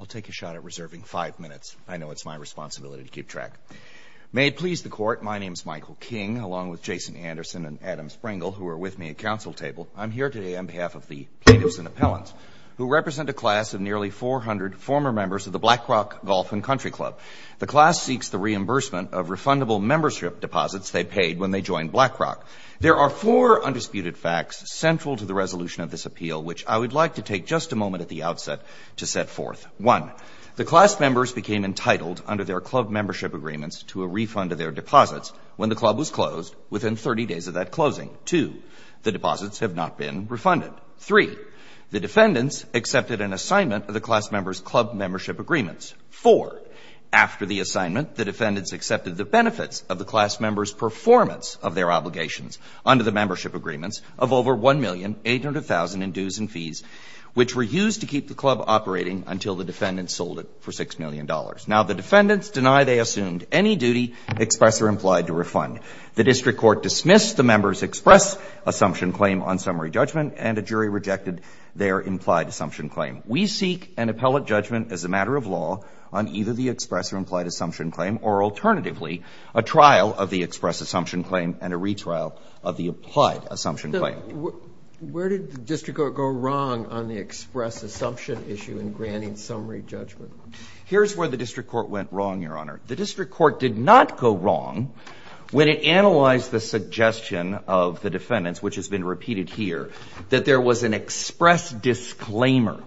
I'll take a shot at reserving five minutes. I know it's my responsibility to keep track. May it please the court, my name is Michael King, along with Jason Anderson and Adam Springle, who are with me at council table. I'm here today on behalf of the Catives and Appellants, who represent a class of nearly 400 former members of the Blackrock Golf and Country Club. The class seeks the reimbursement of refundable membership deposits they paid when they joined Blackrock. There are four undisputed facts central to the resolution of this appeal, which I would like to take just a moment at the outset to set forth. One, the class members became entitled under their club membership agreements to a refund of their deposits when the club was closed within 30 days of that closing. Two, the deposits have not been refunded. Three, the defendants accepted an assignment of the class members' club membership agreements. Four, after the assignment, the defendants accepted the benefits of the class members' performance agreements of over $1,800,000 in dues and fees, which were used to keep the club operating until the defendants sold it for $6 million. Now, the defendants deny they assumed any duty, express or implied, to refund. The district court dismissed the members' express assumption claim on summary judgment, and a jury rejected their implied assumption claim. We seek an appellate judgment as a matter of law on either the express or implied assumption claim, or alternatively, a trial of the express assumption claim and a retrial of the implied assumption claim. Where did the district court go wrong on the express assumption issue in granting summary judgment? Here's where the district court went wrong, Your Honor. The district court did not go wrong when it analyzed the suggestion of the defendants, which has been repeated here, that there was an express disclaimer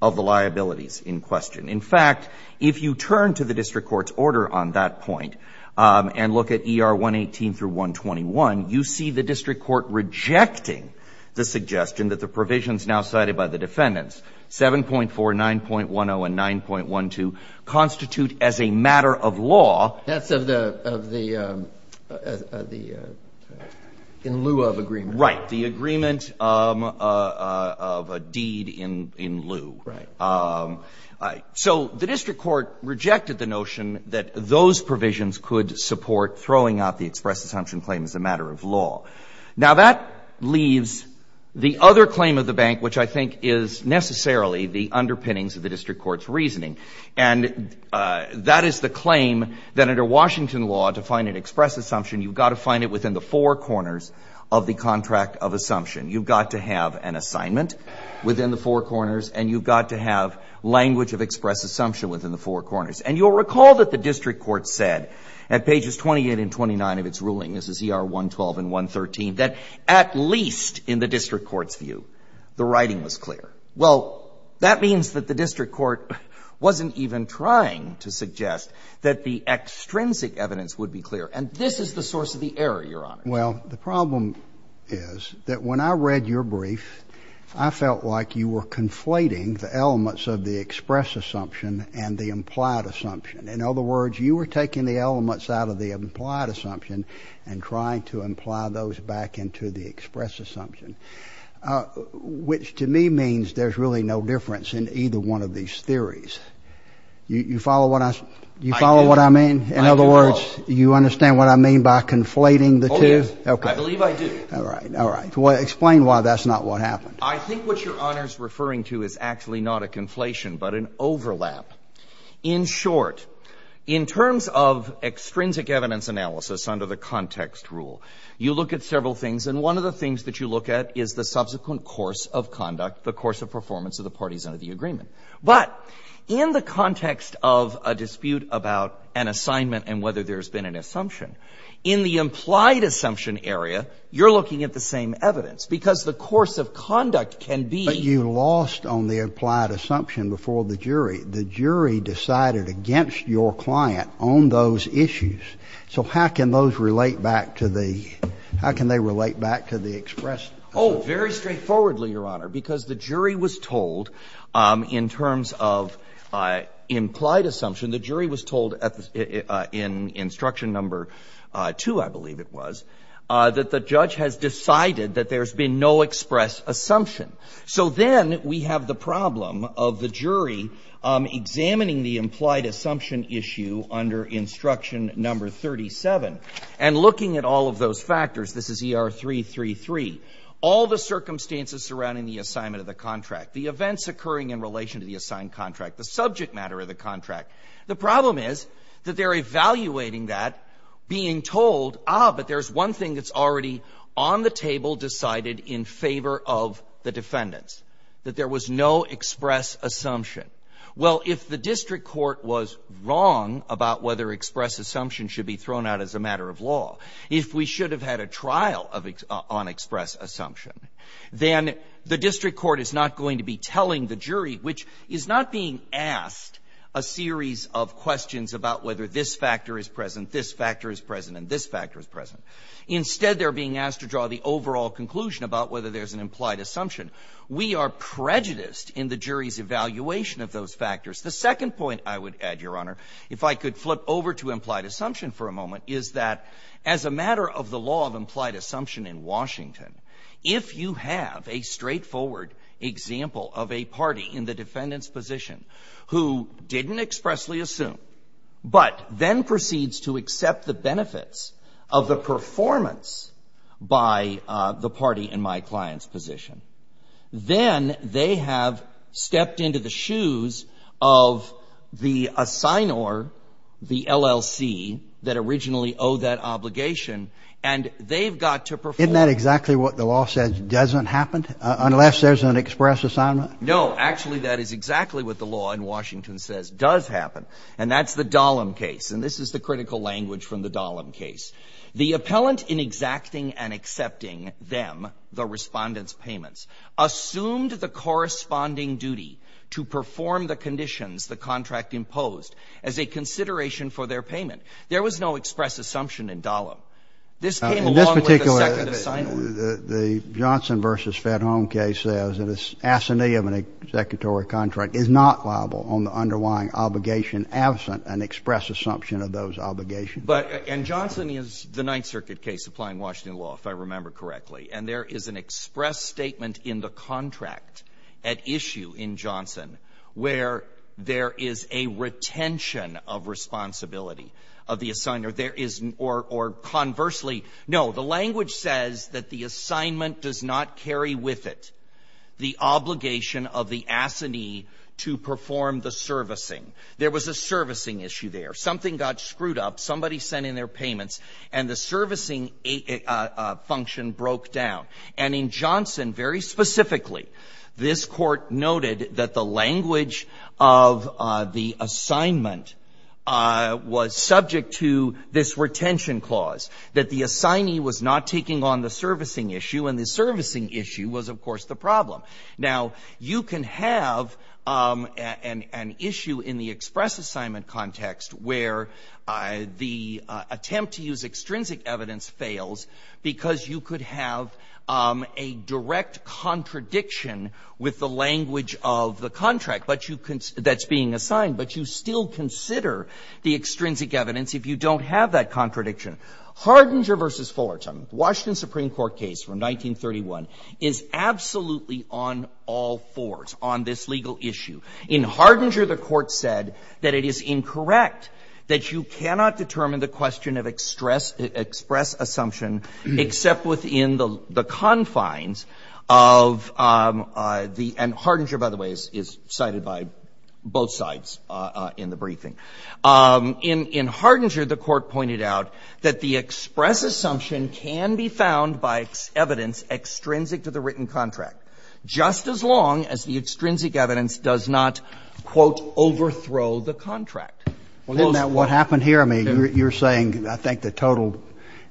of the liabilities in question. In fact, if you turn to the district court's order on that point and look at ER 118 through 121, you see the district court rejecting the suggestion that the provisions now cited by the defendants, 7.4, 9.10, and 9.12, constitute as a matter of law. That's in lieu of agreement. Right, the agreement of a deed in lieu. So the district court rejected the notion that those provisions could support throwing out the express assumption claim as a matter of law. Now that leaves the other claim of the bank, which I think is necessarily the underpinnings of the district court's reasoning. And that is the claim that under Washington law, to find an express assumption, you've got to find it within the four corners of the contract of assumption. You've got to have an assignment within the four corners, and you've got to have language of express assumption within the four corners. And you'll recall that the district court said, at pages 28 and 29 of its ruling, this is ER 112 and 113, that at least in the district court's view, the writing was clear. Well, that means that the district court wasn't even trying to suggest that the extrinsic evidence would be clear. And this is the source of the error, Your Honor. Well, the problem is that when I read your brief, I felt like you were conflating the elements of the express assumption and the implied assumption. In other words, you were taking the elements out of the implied assumption and trying to imply those back into the express assumption, which to me means there's really no difference in either one of these theories. You follow what I mean? In other words, you understand what I mean by conflating the two? Oh, yes. I believe I do. All right. All right. Explain why that's not what happened. I think what Your Honor's referring to is actually not a conflation, but an overlap. In short, in terms of extrinsic evidence analysis under the context rule, you look at several things. And one of the things that you look at is the subsequent course of conduct, the course of performance of the parties under the agreement. But in the context of a dispute about an assignment and whether there's been an assumption, in the implied assumption area, you're looking at the same evidence. Because the course of conduct can be. But you lost on the implied assumption before the jury. The jury decided against your client on those issues. So how can those relate back to the expressed assumption? Oh, very straightforwardly, Your Honor. Because the jury was told, in terms of implied assumption, the jury was told in instruction number two, I believe it was, that the judge has decided that there's been no expressed assumption. So then we have the problem of the jury examining the implied assumption issue under instruction number 37 and looking at all of those factors. This is ER333. All the circumstances surrounding the assignment of the contract, the events occurring in relation to the assigned contract, the subject matter of the contract. The problem is that they're evaluating that, being told, ah, but there's one thing that's already on the table decided in favor of the defendants, that there was no express assumption. Well, if the district court was wrong about whether express assumption should be thrown out as a matter of law, if we should have had a trial on express assumption, then the district court is not going to be telling the jury, which is not being asked a series of questions about whether this factor is present, this factor is present, and this factor is present. Instead, they're being asked to draw the overall conclusion about whether there's an implied assumption. We are prejudiced in the jury's evaluation of those factors. The second point I would add, Your Honor, if I could flip over to implied assumption for a moment, is that as a matter of the law of implied assumption in Washington, if you have a straightforward example of a party in the defendant's position who didn't expressly assume, but then proceeds to accept the benefits of the performance by the party in my client's position, then they have stepped into the shoes of the assignor, the LLC, that originally owed that obligation. And they've got to perform. Isn't that exactly what the law says doesn't happen, unless there's an express assignment? No, actually, that is exactly what the law in Washington says does happen. And that's the Dahlem case. And this is the critical language from the Dahlem case. The appellant, in exacting and accepting them, the respondent's payments, assumed the corresponding duty to perform the conditions the contract imposed as a consideration for their payment. There was no express assumption in Dahlem. This came along with the second assignment. The Johnson versus Fedholm case says that an assignee of an executory contract is not liable on the underlying obligation absent an express assumption of those obligations. And Johnson is the Ninth Circuit case applying Washington law, if I remember correctly. And there is an express statement in the contract at issue in Johnson, where there is a retention of responsibility of the assignor. Or conversely, no, the language says that the assignment does not carry with it the obligation of the assignee to perform the servicing. There was a servicing issue there. Something got screwed up. Somebody sent in their payments, and the servicing function broke down. And in Johnson, very specifically, this court noted that the language of the assignment was subject to this retention clause, that the assignee was not taking on the servicing issue, and the servicing issue was, of course, the problem. Now, you can have an issue in the express assignment context where the attempt to use extrinsic evidence fails because you could have a direct contradiction with the language of the contract that's being assigned, but you still consider the extrinsic evidence if you don't have that contradiction. Hardinger v. Fullerton, Washington Supreme Court case from 1931, is absolutely on all fours on this legal issue. In Hardinger, the Court said that it is incorrect that you cannot determine the question of express assumption except within the confines of the end. Hardinger, by the way, is cited by both sides in the briefing. In Hardinger, the Court pointed out that the express assumption can be found by evidence extrinsic to the written contract, just as long as the extrinsic evidence does not, quote, overthrow the contract. Isn't that what happened here? I mean, you're saying, I think, the total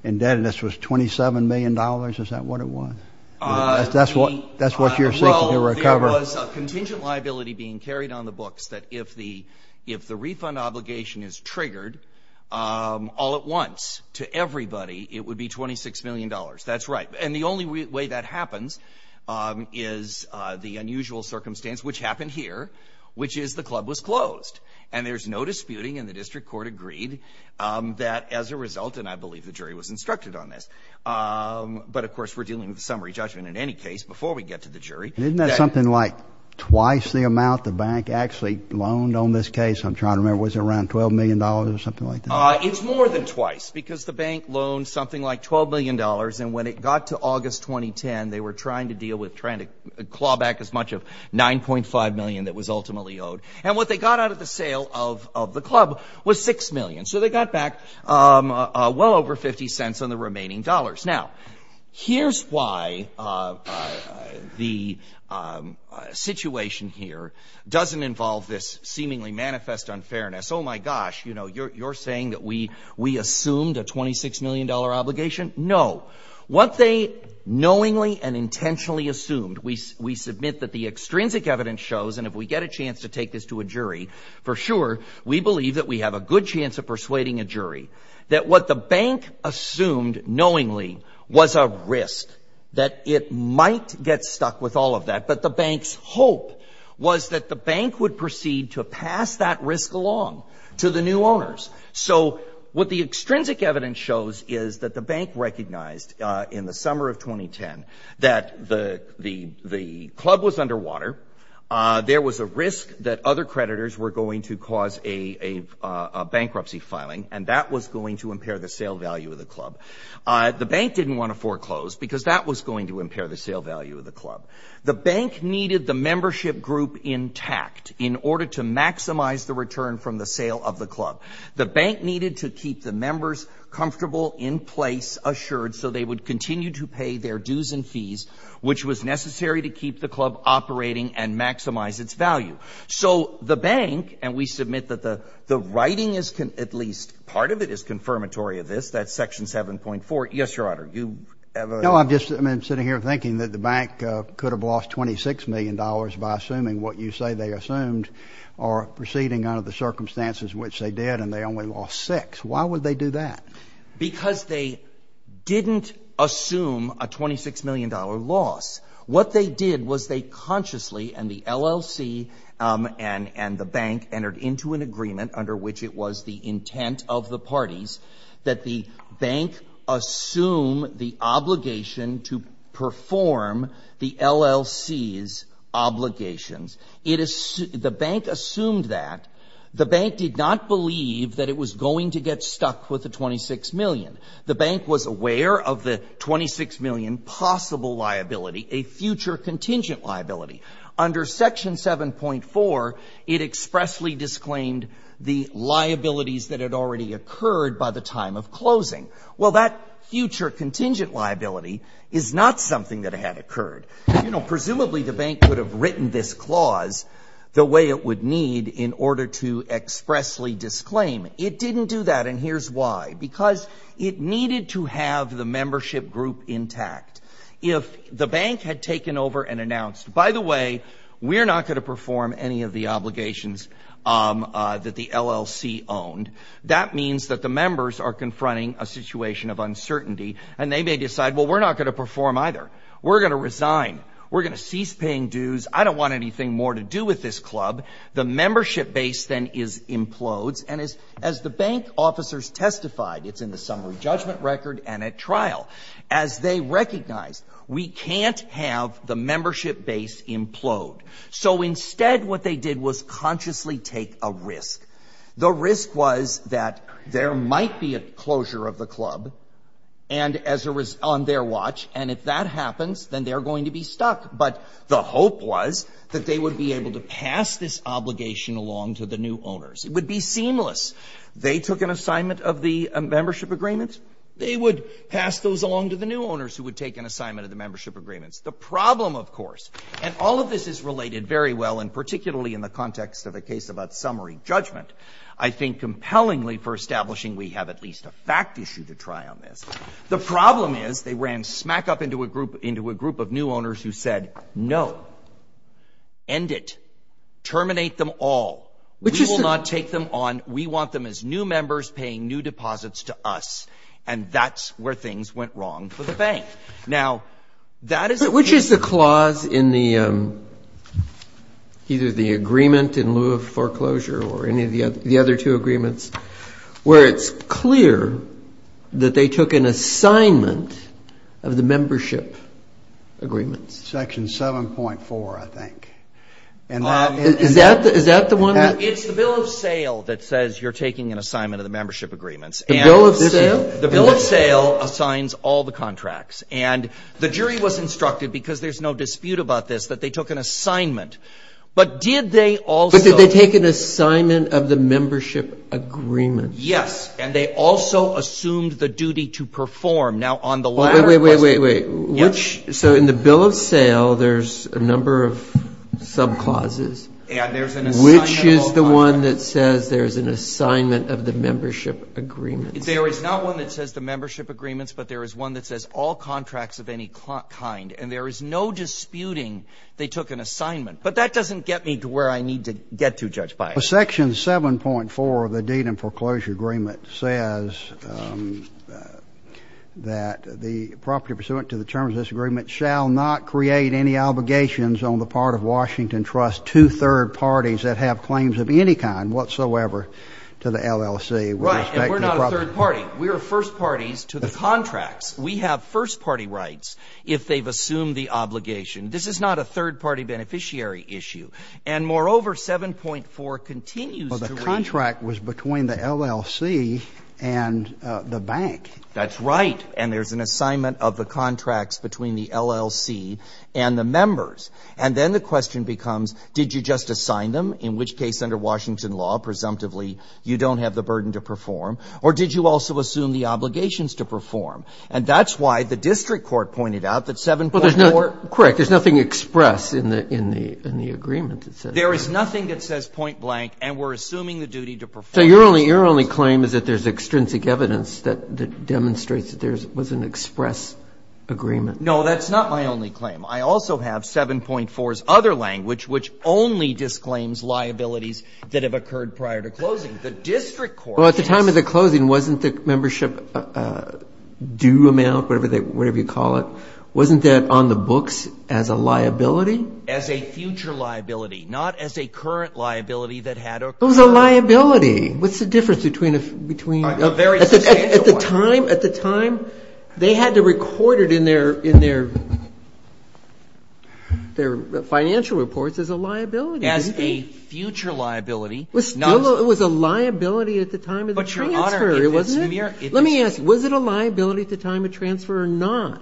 indebtedness was $27 million? Is that what it was? That's what you're seeking to recover? Well, there was a contingent liability being carried on the books that if the refund obligation is triggered all at once to everybody, it would be $26 million. That's right. And the only way that happens is the unusual circumstance, which happened here, which is the club was closed. And there's no disputing, and the district court agreed, that as a result, and I believe the jury was instructed on this, but of course, we're dealing with a summary judgment in any case before we get to the jury. Isn't that something like twice the amount the bank actually loaned on this case? I'm trying to remember. Was it around $12 million or something like that? It's more than twice, because the bank loaned something like $12 million, and when it got to August 2010, they were trying to deal with trying to claw back as much of $9.5 million that was ultimately owed. And what they got out of the sale of the club was $6 million. So they got back well over $0.50 on the remaining dollars. Now, here's why the situation here doesn't involve this seemingly manifest unfairness. Oh my gosh, you're saying that we assumed a $26 million obligation? No. What they knowingly and intentionally assumed, we submit that the extrinsic evidence shows, and if we get a chance to take this to a jury, for sure, we believe that we have a good chance of persuading a jury, that what the bank assumed knowingly was a risk, that it might get stuck with all of that, but the bank's hope was that the bank would proceed to pass that risk along to the new owners. So what the extrinsic evidence shows is that the bank recognized in the summer of 2010 that the club was underwater, there was a risk that other creditors were going to cause a bankruptcy filing, and that was going to impair the sale value of the club. The bank didn't want to foreclose because that was going to impair the sale value of the club. The bank needed the membership group intact in order to maximize the return from the sale of the club. The bank needed to keep the members comfortable, in place, assured, so they would continue to pay their dues and fees, which was necessary to keep the club operating and maximize its value. So the bank, and we submit that the writing is, at least part of it, is confirmatory of this. That's section 7.4. Yes, Your Honor, you have a? No, I'm just sitting here thinking that the bank could have lost $26 million by assuming what you say they assumed or proceeding under the circumstances which they did, and they only lost six. Why would they do that? Because they didn't assume a $26 million loss. What they did was they consciously, and the LLC and the bank entered into an agreement under which it was the intent of the parties, that the bank assume the obligation to perform the LLC's obligations. The bank assumed that. The bank did not believe that it was going to get stuck with the $26 million. The bank was aware of the $26 million possible liability, a future contingent liability. Under section 7.4, it expressly disclaimed the liabilities that had already occurred by the time of closing. Well, that future contingent liability is not something that had occurred. Presumably, the bank would have written this clause the way it would need in order to expressly disclaim. It didn't do that, and here's why. Because it needed to have the membership group intact. If the bank had taken over and announced, by the way, we're not going to perform any of the obligations that the LLC owned, that means that the members are confronting a situation of uncertainty, and they may decide, well, we're not going to perform either. We're going to resign. We're going to cease paying dues. I don't want anything more to do with this club. The membership base then implodes, and as the bank officers testified, it's in the summary judgment record and at trial, as they recognized, we can't have the membership base implode. So instead, what they did was consciously take a risk. The risk was that there might be a closure of the club on their watch, and if that happens, then they're going to be stuck. But the hope was that they would be able to pass this obligation along to the new owners. It would be seamless. They took an assignment of the membership agreement. They would pass those along to the new owners who would take an assignment of the membership agreements. The problem, of course, and all of this is related very well, and particularly in the context of a case about summary judgment, I think compellingly for establishing we have at least a fact issue to try on this. The problem is they ran smack up into a group of new owners who said, no. End it. Terminate them all. We will not take them on. We want them as new members paying new deposits to us, and that's where things went wrong for the bank. Now, that is the case. But which is the clause in either the agreement in lieu of foreclosure or any of the other two agreements where it's clear that they took an assignment of the membership agreements? Section 7.4, I think. Is that the one? It's the bill of sale that says you're taking an assignment of the membership agreements. The bill of sale? The bill of sale assigns all the contracts. And the jury was instructed, because there's no dispute about this, that they took an assignment. But did they also? But did they take an assignment of the membership agreement? Yes. And they also assumed the duty to perform. Now, on the latter question. Wait, wait, wait. So in the bill of sale, there's a number of subclauses. And there's an assignment of all contracts. Which is the one that says there's an assignment of the membership agreements? There is not one that says the membership agreements, but there is one that says all contracts of any kind. And there is no disputing they took an assignment. But that doesn't get me to where I need to get to, Judge Byron. Section 7.4 of the deed and foreclosure agreement says that the property pursuant to the terms of this agreement shall not create any obligations on the part of Washington Trust to third parties that have claims of any kind whatsoever to the LLC with respect to the property. Right. And we're not a third party. We are first parties to the contracts. We have first party rights if they've assumed the obligation. This is not a third party beneficiary issue. And moreover, 7.4 continues to read. Well, the contract was between the LLC and the bank. That's right. And there's an assignment of the contracts between the LLC and the members. And then the question becomes, did you just assign them, in which case under Washington law, presumptively, you don't have the burden to perform? Or did you also assume the obligations to perform? And that's why the district court pointed out that 7.4. Well, there's no. Correct. There's nothing expressed in the agreement that says that. There is nothing that says point blank. And we're assuming the duty to perform. So your only claim is that there's extrinsic evidence that demonstrates that there was an express agreement. No, that's not my only claim. I also have 7.4's other language, which only disclaims liabilities that have occurred prior to closing. The district court is. Well, at the time of the closing, wasn't the membership due amount, whatever you call it, wasn't that on the books as a liability? As a future liability, not as a current liability that had occurred. It was a liability. What's the difference between a very substantial one? At the time, they had to record it in their financial reports as a liability. As a future liability. It was a liability at the time of the transfer, wasn't it? Let me ask, was it a liability at the time of transfer or not?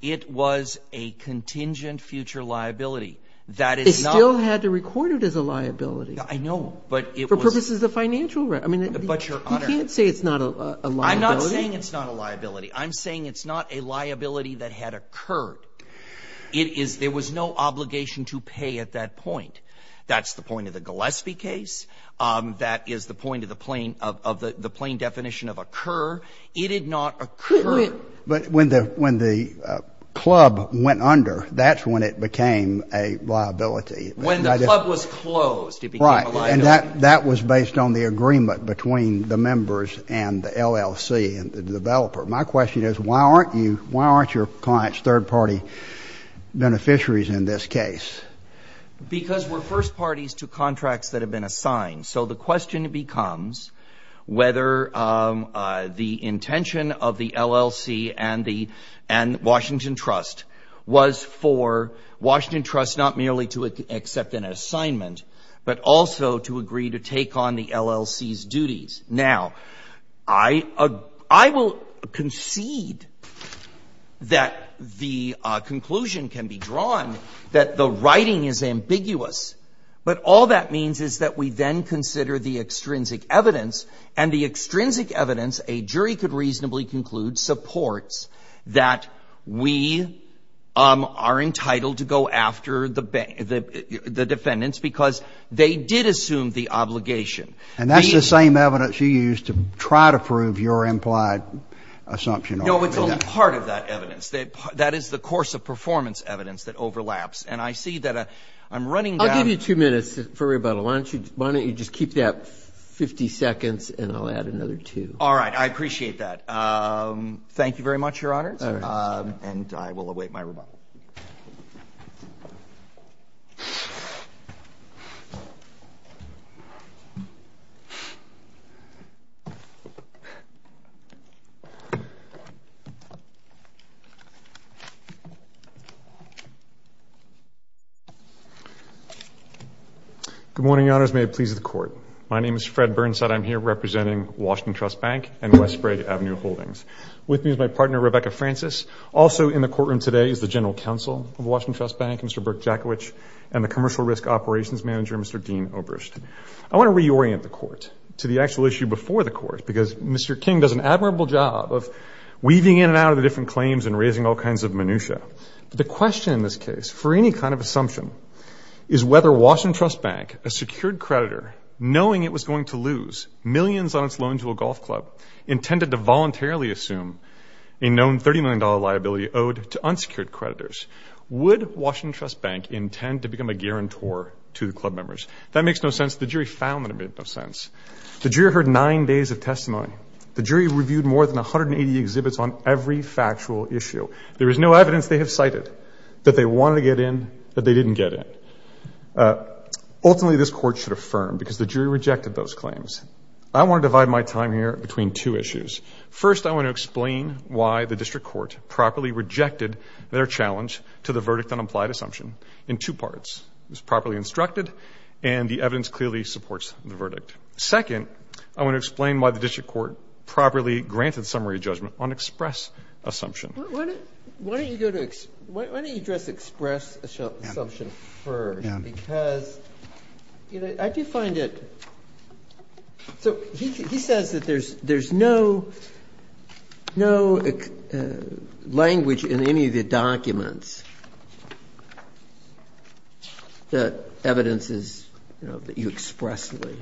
It was a contingent future liability. That is not. They still had to record it as a liability. I know, but it was. For purposes of financial rent. I mean, you can't say it's not a liability. I'm not saying it's not a liability. I'm saying it's not a liability that had occurred. It is there was no obligation to pay at that point. That's the point of the Gillespie case. That is the point of the plain definition of occur. It did not occur. But when the club went under, that's when it became a liability. When the club was closed, it became a liability. That was based on the agreement between the members and the LLC and the developer. My question is, why aren't your clients third party beneficiaries in this case? Because we're first parties to contracts that have been assigned. So the question becomes whether the intention of the LLC and Washington Trust was for Washington Trust not merely to accept an assignment, but also to agree to take on the LLC's duties. Now, I will concede that the conclusion can be drawn that the writing is ambiguous. But all that means is that we then consider the extrinsic evidence and the extrinsic evidence a jury could reasonably conclude supports that we are entitled to go after the defendants because they did assume the obligation. And that's the same evidence you used to try to prove your implied assumption. No, it's only part of that evidence. That is the course of performance evidence that overlaps. And I see that I'm running down. I'll give you two minutes for rebuttal. Why don't you just keep that 50 seconds and I'll add another two. All right, I appreciate that. Thank you very much, your honors. And I will await my rebuttal. Good morning, your honors. May it please the court. My name is Fred Burnside. I'm here representing Washington Trust Bank and Westbrook Avenue Holdings. With me is my partner, Rebecca Francis. Also in the courtroom today is the general counsel of Washington Trust Bank, Mr. Burke Jackowich and the commercial risk operations manager, Mr. Dean Oberst. I want to reorient the court to the actual issue before the court because Mr. King does an admirable job of weaving in and out of the different claims and raising all kinds of minutia. The question in this case for any kind of assumption is whether Washington Trust Bank, a secured creditor, knowing it was going to lose millions on its loan to a golf club, intended to voluntarily assume a known $30 million liability owed to unsecured creditors. Would Washington Trust Bank intend to become a guarantor to the club members? That makes no sense. The jury found that it made no sense. The jury heard nine days of testimony. The jury reviewed more than 180 exhibits on every factual issue. There is no evidence they have cited that they wanted to get in, that they didn't get in. Ultimately, this court should affirm because the jury rejected those claims. I want to divide my time here between two issues. First, I want to explain why the district court properly rejected their challenge to the verdict on implied assumption in two parts. It was properly instructed, and the evidence clearly supports the verdict. Second, I want to explain why the district court properly granted summary judgment on express assumption. Why don't you address express assumption first? Because I do find it, so he says that there's no language in any of the documents that evidences that you expressly.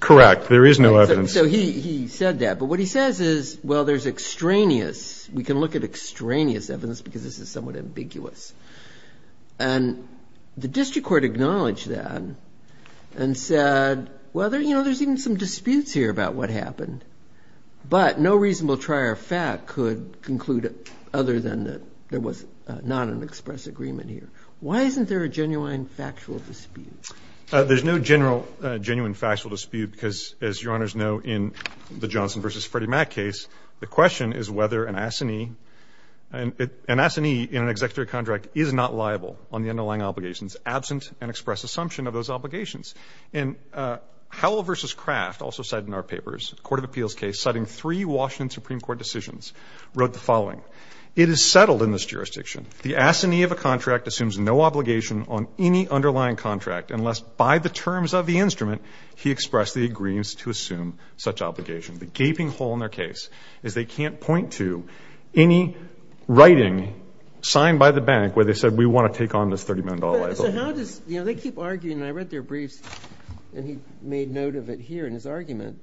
Correct, there is no evidence. So he said that, but what he says is, well, there's extraneous. We can look at extraneous evidence because this is somewhat ambiguous. And the district court acknowledged that and said, well, there's even some disputes here about what happened, but no reasonable trier of fact could conclude other than that there was not an express agreement here. Why isn't there a genuine factual dispute? There's no general genuine factual dispute because as your honors know, in the Johnson versus Freddie Mac case, the question is whether an assignee and an assignee in an executive contract is not liable on the underlying obligations absent and express assumption of those obligations. And Howell versus Kraft also said in our papers, court of appeals case, citing three Washington Supreme court decisions wrote the following. It is settled in this jurisdiction. The assignee of a contract assumes no obligation on any underlying contract unless by the terms of the instrument, he expressed the agreements to assume such obligation. The gaping hole in their case is they can't point to any writing signed by the bank where they said, we wanna take on this $30 million. So how does, you know, they keep arguing and I read their briefs and he made note of it here in his argument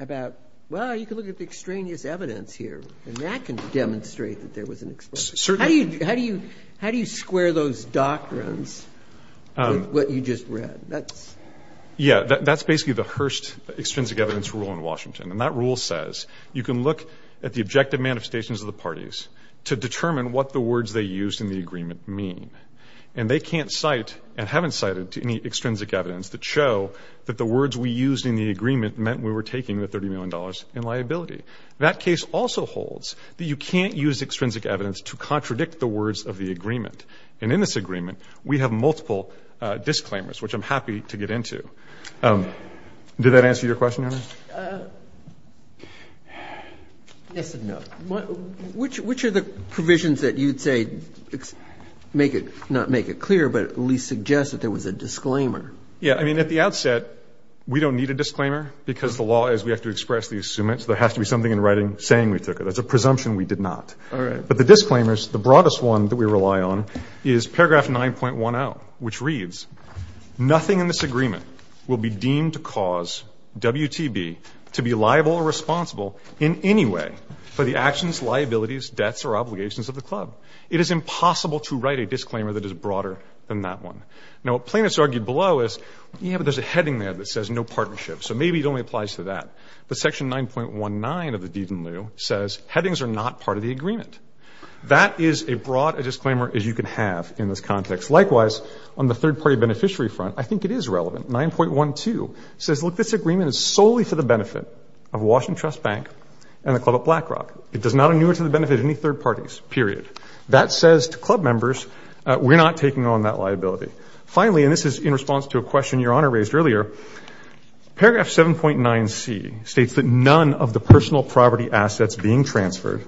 about, well, you can look at the extraneous evidence here and that can demonstrate that there was an expression. How do you square those doctrines with what you just read? Yeah, that's basically the Hearst extrinsic evidence rule in Washington. And that rule says you can look at the objective manifestations of the parties to determine what the words they used in the agreement mean. And they can't cite and haven't cited to any extrinsic evidence that show that the words we used in the agreement meant we were taking the $30 million in liability. That case also holds that you can't use extrinsic evidence to contradict the words of the agreement. And in this agreement, we have multiple disclaimers, which I'm happy to get into. Did that answer your question, Your Honor? Yes and no, which are the provisions that you'd say make it, not make it clear, but at least suggest that there was a disclaimer? Yeah, I mean, at the outset, we don't need a disclaimer because the law is we have to express the assumants. There has to be something in writing saying we took it. That's a presumption we did not. But the disclaimers, the broadest one that we rely on is paragraph 9.10, which reads, nothing in this agreement will be deemed to cause WTB to be liable or responsible in any way for the actions, liabilities, debts, or obligations of the club. It is impossible to write a disclaimer that is broader than that one. Now, what plaintiffs argued below is, yeah, but there's a heading there that says no partnership. So maybe it only applies to that. But section 9.19 of the Deed and Lieu says, headings are not part of the agreement. That is as broad a disclaimer as you can have in this context. Likewise, on the third-party beneficiary front, I think it is relevant. 9.12 says, look, this agreement is solely for the benefit of Washington Trust Bank and the Club at Blackrock. It does not enumerate to the benefit of any third parties, period. That says to club members, we're not taking on that liability. Finally, and this is in response to a question Your Honor raised earlier, paragraph 7.9c states that none of the personal property assets being transferred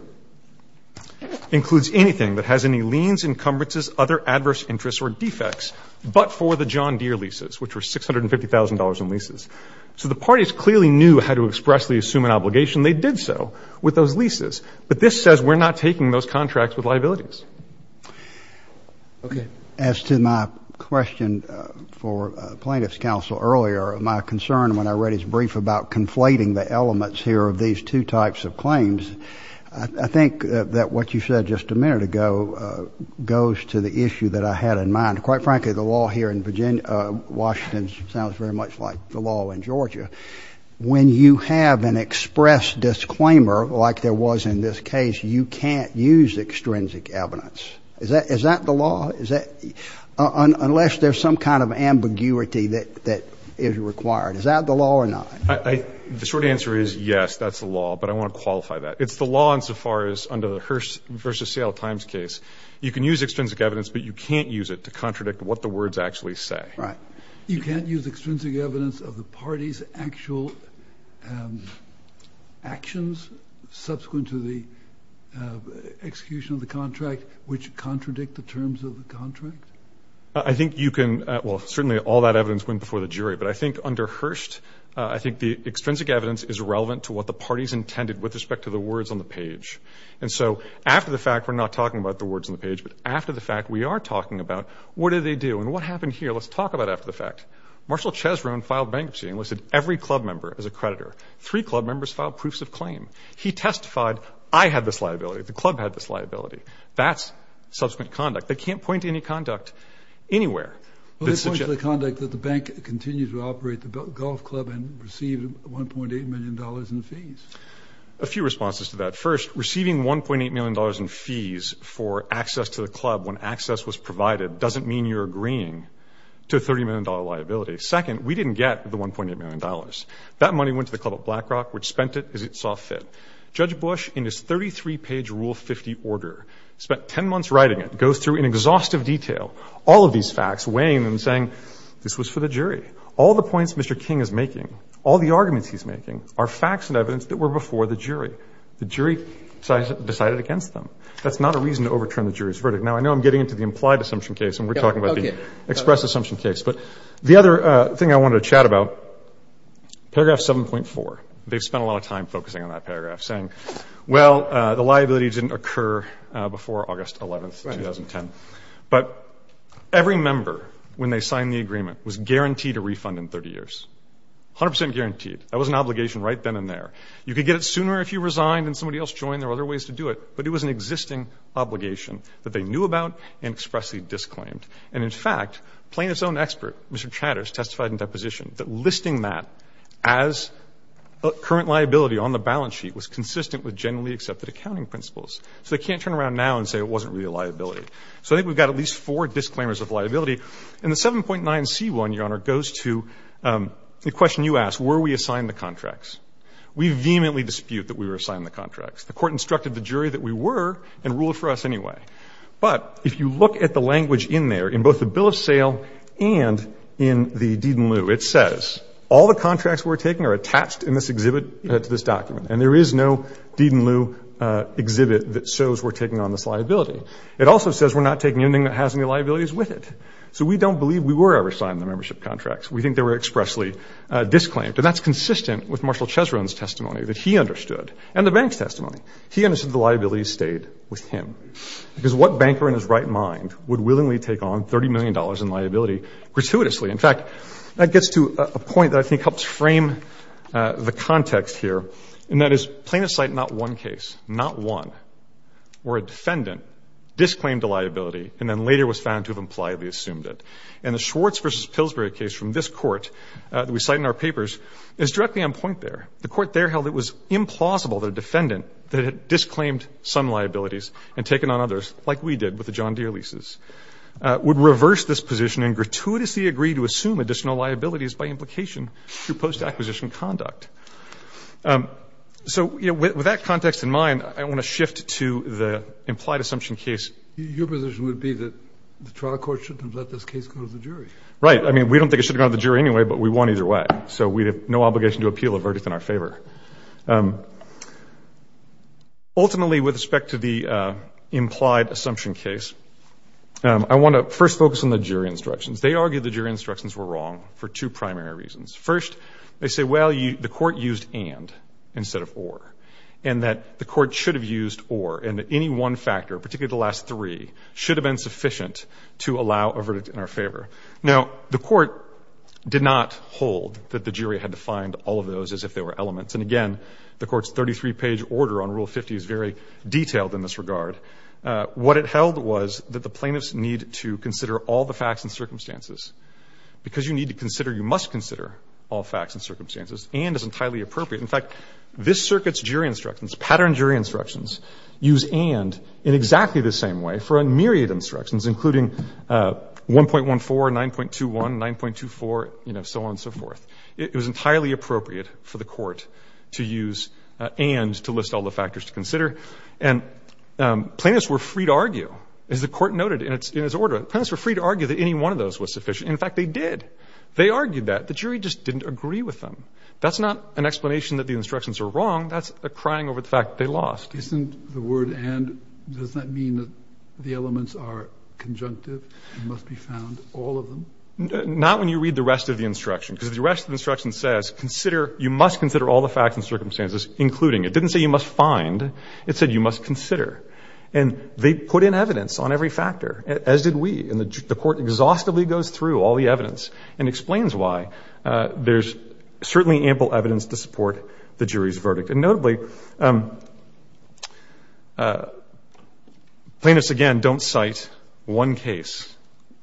includes anything that has any liens, encumbrances, other adverse interests or defects, but for the John Deere leases, which were $650,000 in leases. So the parties clearly knew how to expressly assume an obligation. They did so with those leases. But this says we're not taking those contracts with liabilities. Okay. As to my question for plaintiff's counsel earlier, my concern when I read his brief about conflating the elements here of these two types of claims, I think that what you said just a minute ago goes to the issue that I had in mind. Quite frankly, the law here in Virginia, Washington sounds very much like the law in Georgia. When you have an express disclaimer, like there was in this case, you can't use extrinsic evidence. Is that the law? Is that, unless there's some kind of ambiguity that is required. Is that the law or not? The short answer is yes, that's the law, but I want to qualify that. It's the law insofar as, under the Hearst versus Seattle Times case, you can use extrinsic evidence, but you can't use it to contradict what the words actually say. Right. You can't use extrinsic evidence of the party's actual actions subsequent to the execution of the contract, which contradict the terms of the contract? I think you can, well, certainly all that evidence went before the jury, but I think under Hearst, I think the extrinsic evidence is irrelevant to what the party's intended with respect to the words on the page. And so, after the fact, we're not talking about the words on the page, but after the fact, we are talking about what did they do and what happened here. Let's talk about after the fact. Marshall Chesron filed bankruptcy and listed every club member as a creditor. Three club members filed proofs of claim. He testified, I had this liability. The club had this liability. That's subsequent conduct. They can't point to any conduct anywhere. Well, they point to the conduct that the bank continued to operate the golf club and received $1.8 million in fees. A few responses to that. First, receiving $1.8 million in fees for access to the club when access was provided doesn't mean you're agreeing to a $30 million liability. Second, we didn't get the $1.8 million. That money went to the club at Blackrock, which spent it as it saw fit. Judge Bush, in his 33-page Rule 50 order, spent 10 months writing it, goes through in exhaustive detail all of these facts, weighing them and saying, this was for the jury. All the points Mr. King is making, all the arguments he's making, are facts and evidence that were before the jury. The jury decided against them. That's not a reason to overturn the jury's verdict. Now, I know I'm getting into the implied assumption case and we're talking about the expressed assumption case, but the other thing I wanted to chat about, paragraph 7.4. They've spent a lot of time focusing on that paragraph, saying, well, the liability didn't occur before August 11th, 2010. But every member, when they signed the agreement, was guaranteed a refund in 30 years. 100% guaranteed. That was an obligation right then and there. You could get it sooner if you resigned and somebody else joined. There were other ways to do it, but it was an existing obligation that they knew about and expressly disclaimed. And in fact, plaintiff's own expert, Mr. Chatters, testified in deposition that listing that as a current liability on the balance sheet was consistent with generally accepted accounting principles. So they can't turn around now and say it wasn't really a liability. So I think we've got at least four disclaimers of liability. And the 7.9c1, Your Honor, goes to the question you asked. Were we assigned the contracts? We vehemently dispute that we were assigned the contracts. The court instructed the jury that we were and ruled for us anyway. But if you look at the language in there, in both the bill of sale and in the deed in lieu, it says all the contracts we're taking are attached in this exhibit to this document. And there is no deed in lieu exhibit that shows we're taking on this liability. It also says we're not taking anything that has any liabilities with it. So we don't believe we were ever signed the membership contracts. We think they were expressly disclaimed. And that's consistent with Marshall Chesron's testimony that he understood and the bank's testimony. He understood the liability stayed with him. Because what banker in his right mind would willingly take on $30 million in liability gratuitously? In fact, that gets to a point that I think helps frame the context here. And that is plaintiff cite not one case, not one, where a defendant disclaimed a liability and then later was found to have impliedly assumed it. And the Schwartz versus Pillsbury case from this court that we cite in our papers is directly on point there. The court there held it was implausible that a defendant that had disclaimed some liabilities and taken on others, like we did with the John Deere leases, would reverse this position and gratuitously agree to assume additional liabilities by implication through post-acquisition conduct. So with that context in mind, I want to shift to the implied assumption case. Your position would be that the trial court shouldn't have let this case go to the jury. Right, I mean, we don't think they should have gone to the jury anyway, but we won either way. So we have no obligation to appeal a verdict in our favor. Ultimately, with respect to the implied assumption case, I want to first focus on the jury instructions. They argued the jury instructions were wrong for two primary reasons. First, they say, well, the court used and instead of or, and that the court should have used or, and that any one factor, particularly the last three, should have been sufficient to allow a verdict in our favor. Now, the court did not hold that the jury had to find all of those as if they were elements. And again, the court's 33-page order on Rule 50 is very detailed in this regard. What it held was that the plaintiffs need to consider all the facts and circumstances. Because you need to consider, you must consider all facts and circumstances. And is entirely appropriate. In fact, this circuit's jury instructions, pattern jury instructions, use and in exactly the same way for a myriad instructions, including 1.14, 9.21, 9.24, you know, so on and so forth. It was entirely appropriate for the court to use and to list all the factors to consider. And plaintiffs were free to argue, as the court noted in its order. Plaintiffs were free to argue that any one of those was sufficient. In fact, they did. They argued that. The jury just didn't agree with them. That's not an explanation that the instructions are wrong. That's a crying over the fact that they lost. Isn't the word and, does that mean that the elements are conjunctive and must be found, all of them? Not when you read the rest of the instruction. Because the rest of the instruction says, consider, you must consider all the facts and circumstances, including. It didn't say you must find. It said you must consider. And they put in evidence on every factor, as did we. And the court exhaustively goes through all the evidence and explains why. There's certainly ample evidence to support the jury's verdict. And notably, plaintiffs, again, don't cite one case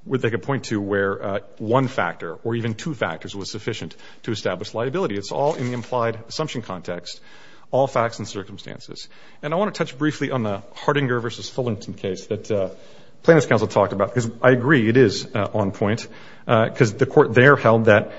where they could point to where one factor or even two factors was sufficient to establish liability. It's all in the implied assumption context, all facts and circumstances. And I want to touch briefly on the Hardinger versus Fullerton case that plaintiffs' counsel talked about. Because I agree, it is on point. Because the court there held that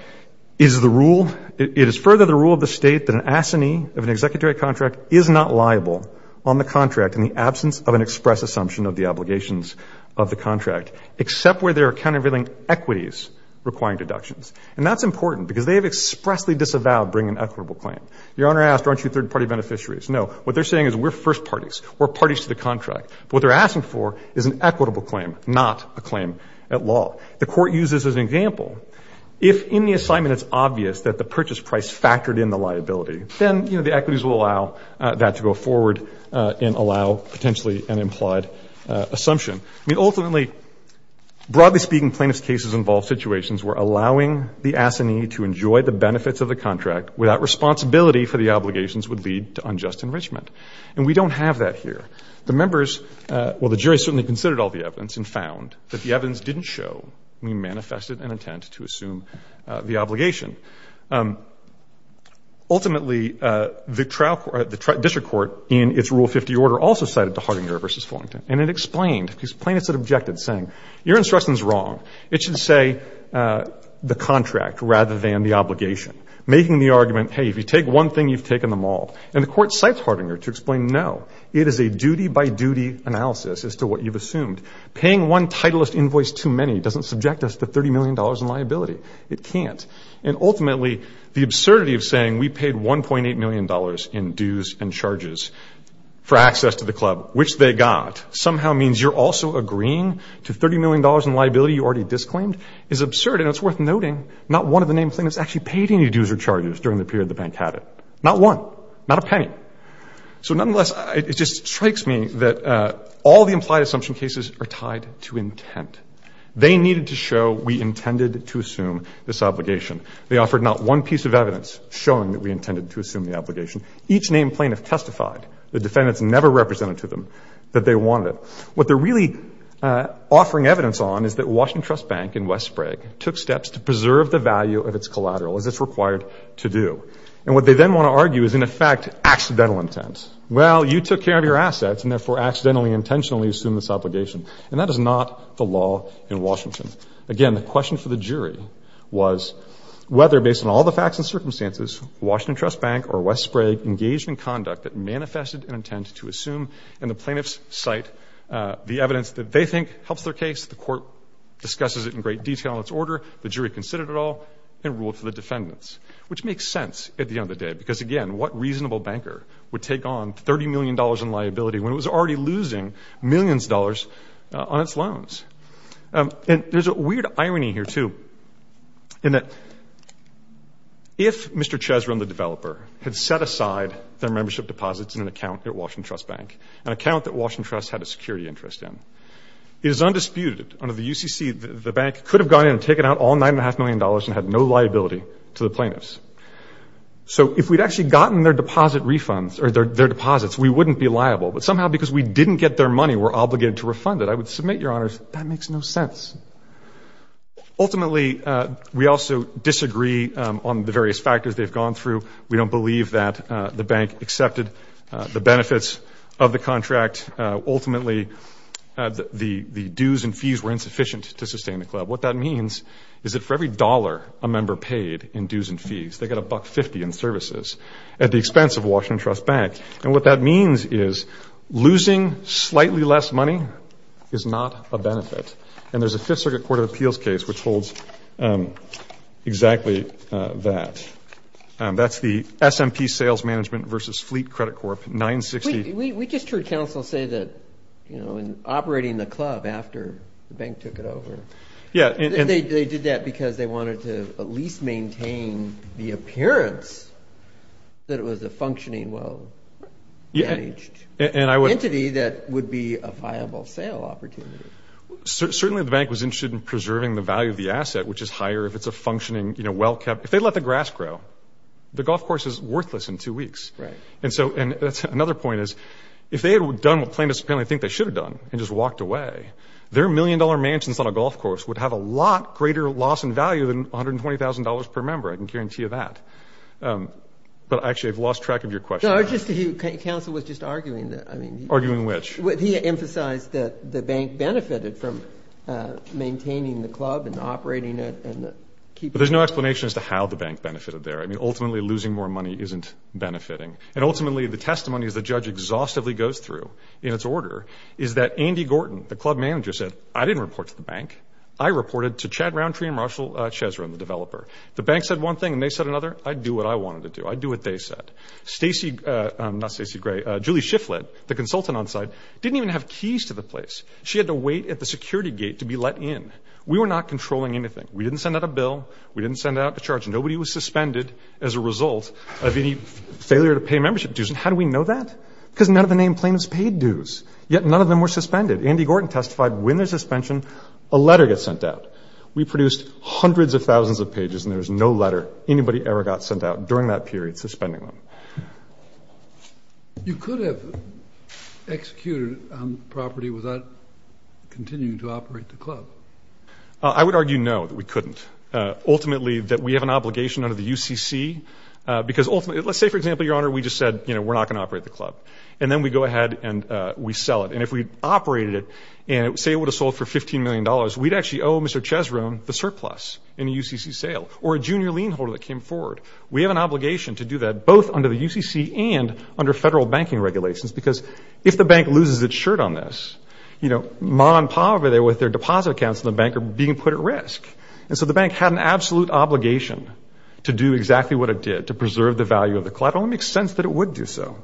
is the rule, it is further the rule of the state that an assignee of an executive contract is not liable on the contract in the absence of an express assumption of the obligations of the contract, except where there are countervailing equities requiring deductions. And that's important because they have expressly disavowed bringing an equitable claim. Your Honor asked, aren't you third party beneficiaries? No, what they're saying is we're first parties. We're parties to the contract. But what they're asking for is an equitable claim, not a claim at law. The court uses as an example, if in the assignment it's obvious that the purchase price factored in the liability, then the equities will allow that to go forward and allow potentially an implied assumption. I mean, ultimately, broadly speaking, plaintiffs' cases involve situations where allowing the assignee to enjoy the benefits of the contract without responsibility for the obligations would lead to unjust enrichment. And we don't have that here. The members, well, the jury certainly considered all the evidence and found that the evidence didn't show we manifested an intent to assume the obligation. Ultimately, the district court in its Rule 50 order also cited the Hardinger versus Fullington. And it explained, because plaintiffs had objected saying, your instruction's wrong. It should say the contract rather than the obligation, making the argument, hey, if you take one thing, you've taken them all. And the court cites Hardinger to explain, no, it is a duty by duty analysis as to what you've assumed. Paying one titlist invoice too many doesn't subject us to $30 million in liability. It can't. And ultimately, the absurdity of saying we paid $1.8 million in dues and charges for access to the club, which they got, somehow means you're also agreeing to $30 million in liability you already disclaimed is absurd, and it's worth noting not one of the named plaintiffs actually paid any dues or charges during the period the bank had it. Not one, not a penny. So nonetheless, it just strikes me that all the implied assumption cases are tied to intent. They needed to show we intended to assume this obligation. They offered not one piece of evidence showing that we intended to assume the obligation. Each named plaintiff testified. The defendants never represented to them that they wanted it. What they're really offering evidence on is that Washington Trust Bank and West Sprague took steps to preserve the value of its collateral as it's required to do. And what they then want to argue is in effect, accidental intent. Well, you took care of your assets and therefore accidentally, intentionally assumed this obligation. And that is not the law in Washington. Again, the question for the jury was whether based on all the facts and circumstances, Washington Trust Bank or West Sprague engaged in conduct that manifested an intent to assume in the plaintiff's site the evidence that they think helps their case. The court discusses it in great detail in its order. The jury considered it all and ruled for the defendants. Which makes sense at the end of the day because again, what reasonable banker would take on $30 million in liability when it was already losing millions of dollars on its loans? And there's a weird irony here too. In that, if Mr. Chesron, the developer, had set aside their membership deposits in an account at Washington Trust Bank, an account that Washington Trust had a security interest in, it is undisputed under the UCC, the bank could have gone in and taken out all nine and a half million dollars and had no liability to the plaintiffs. So if we'd actually gotten their deposit refunds or their deposits, we wouldn't be liable. But somehow because we didn't get their money, we're obligated to refund it. I would submit, Your Honors, that makes no sense. Ultimately, we also disagree on the various factors they've gone through. We don't believe that the bank accepted the benefits of the contract. Ultimately, the dues and fees were insufficient to sustain the club. What that means is that for every dollar a member paid in dues and fees, they got a buck 50 in services at the expense of Washington Trust Bank. And what that means is losing slightly less money is not a benefit. And there's a Fifth Circuit Court of Appeals case which holds exactly that. That's the SMP Sales Management versus Fleet Credit Corp, 960. We just heard counsel say that in operating the club after the bank took it over. Yeah. They did that because they wanted to at least maintain the appearance that it was a functioning, well-managed entity that would be a viable sale opportunity. Certainly, the bank was interested in preserving the value of the asset, which is higher if it's a functioning, well-kept. If they let the grass grow, the golf course is worthless in two weeks. And so that's another point is, if they had done what plaintiffs apparently think they should have done and just walked away, their million-dollar mansions on a golf course would have a lot greater loss in value than $120,000 per member. I can guarantee you that. But actually, I've lost track of your question. No, I just, counsel was just arguing that, I mean. Arguing which? He emphasized that the bank benefited from maintaining the club and operating it and keeping it. But there's no explanation as to how the bank benefited there. I mean, ultimately, losing more money isn't benefiting. And ultimately, the testimony as the judge exhaustively goes through in its order is that Andy Gorton, the club manager, said, I didn't report to the bank. I reported to Chad Roundtree and Marshall Chesron, the developer. If the bank said one thing and they said another, I'd do what I wanted to do. I'd do what they said. Stacey, not Stacey Gray, Julie Shifflett, the consultant on site, didn't even have keys to the place. She had to wait at the security gate to be let in. We were not controlling anything. We didn't send out a bill. We didn't send out a charge. Nobody was suspended as a result of any failure to pay membership dues. And how do we know that? Because none of the name plaintiffs paid dues, yet none of them were suspended. Andy Gorton testified when there's suspension, a letter gets sent out. We produced hundreds of thousands of pages and there was no letter anybody ever got sent out during that period suspending them. You could have executed on property without continuing to operate the club. I would argue no, that we couldn't. Ultimately, that we have an obligation under the UCC, because ultimately, let's say for example, Your Honor, we just said, you know, we're not gonna operate the club. And then we go ahead and we sell it. And if we operated it, and say it would have sold for $15 million, we'd actually owe Mr. Chesroom the surplus in a UCC sale or a junior lien holder that came forward. We have an obligation to do that both under the UCC and under federal banking regulations, because if the bank loses its shirt on this, you know, Ma and Pa over there with their deposit accounts in the bank are being put at risk. And so the bank had an absolute obligation to do exactly what it did to preserve the value of the club. It only makes sense that it would do so.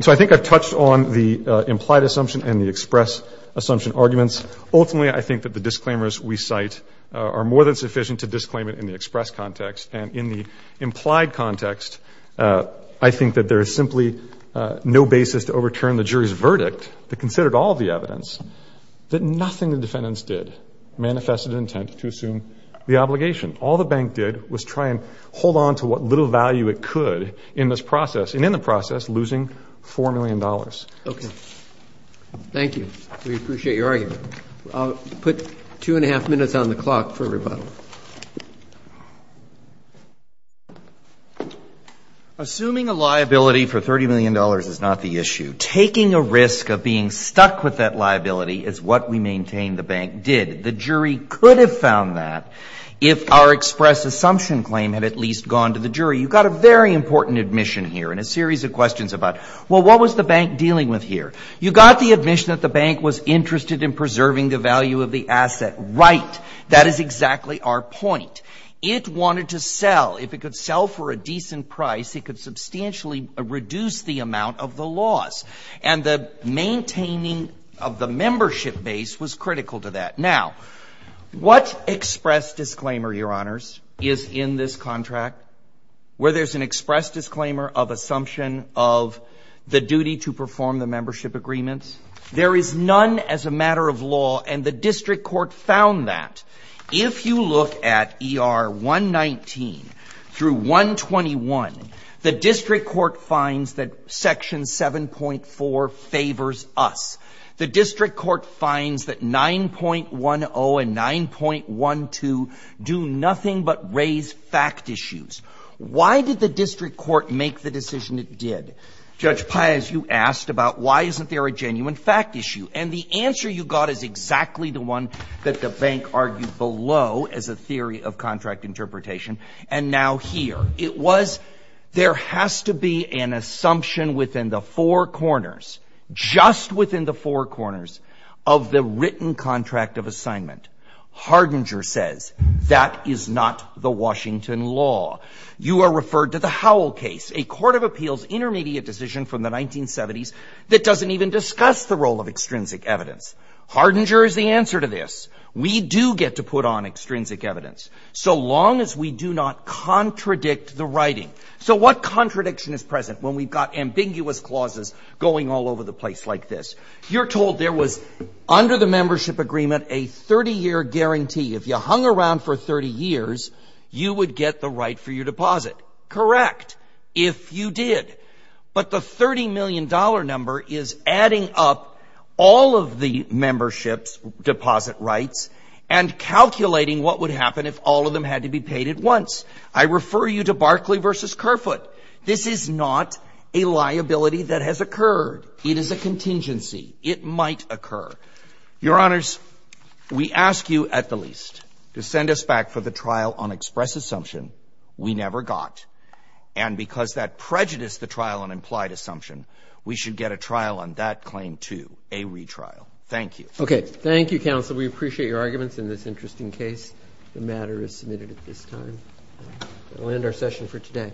So I think I've touched on the implied assumption and the express assumption arguments. Ultimately, I think that the disclaimers we cite are more than sufficient to disclaim it in the express context. And in the implied context, I think that there is simply no basis to overturn the jury's verdict that considered all of the evidence that nothing the defendants did manifested an intent to assume the obligation. All the bank did was try and hold on to what little value it could in this process. And in the process, losing $4 million. Okay. Thank you. We appreciate your argument. I'll put two and a half minutes on the clock for rebuttal. Assuming a liability for $30 million is not the issue. Taking a risk of being stuck with that liability is what we maintain the bank did. The jury could have found that if our express assumption claim had at least gone to the jury. You've got a very important admission here and a series of questions about, well, what was the bank dealing with here? You got the admission that the bank was interested in preserving the value of the asset. Right. That is exactly our point. It wanted to sell. If it could sell for a decent price, it could substantially reduce the amount of the loss. And the maintaining of the membership base was critical to that. Now, what express disclaimer, your honors, is in this contract where there's an express disclaimer of assumption of the duty to perform the membership agreements. There is none as a matter of law and the district court found that. If you look at ER 119 through 121, the district court finds that section 7.4 favors us. The district court finds that 9.10 and 9.12 do nothing but raise fact issues. Why did the district court make the decision it did? Judge Pais, you asked about why isn't there a genuine fact issue? And the answer you got is exactly the one that the bank argued below as a theory of contract interpretation. And now here, it was, there has to be an assumption within the four corners, just within the four corners of the written contract of assignment. Hardinger says, that is not the Washington law. You are referred to the Howell case, a court of appeals intermediate decision from the 1970s that doesn't even discuss the role of extrinsic evidence. Hardinger is the answer to this. We do get to put on extrinsic evidence so long as we do not contradict the writing. So what contradiction is present when we've got ambiguous clauses going all over the place like this? You're told there was under the membership agreement a 30-year guarantee. If you hung around for 30 years, you would get the right for your deposit. Correct, if you did. But the $30 million number is adding up all of the membership's deposit rights and calculating what would happen if all of them had to be paid at once. I refer you to Barclay versus Kerfoot. This is not a liability that has occurred. It is a contingency. It might occur. Your honors, we ask you at the least to send us back for the trial on express assumption we never got. And because that prejudiced the trial on implied assumption, we should get a trial on that claim too, a retrial. Thank you. Okay, thank you, counsel. We appreciate your arguments in this interesting case. The matter is submitted at this time. We'll end our session for today.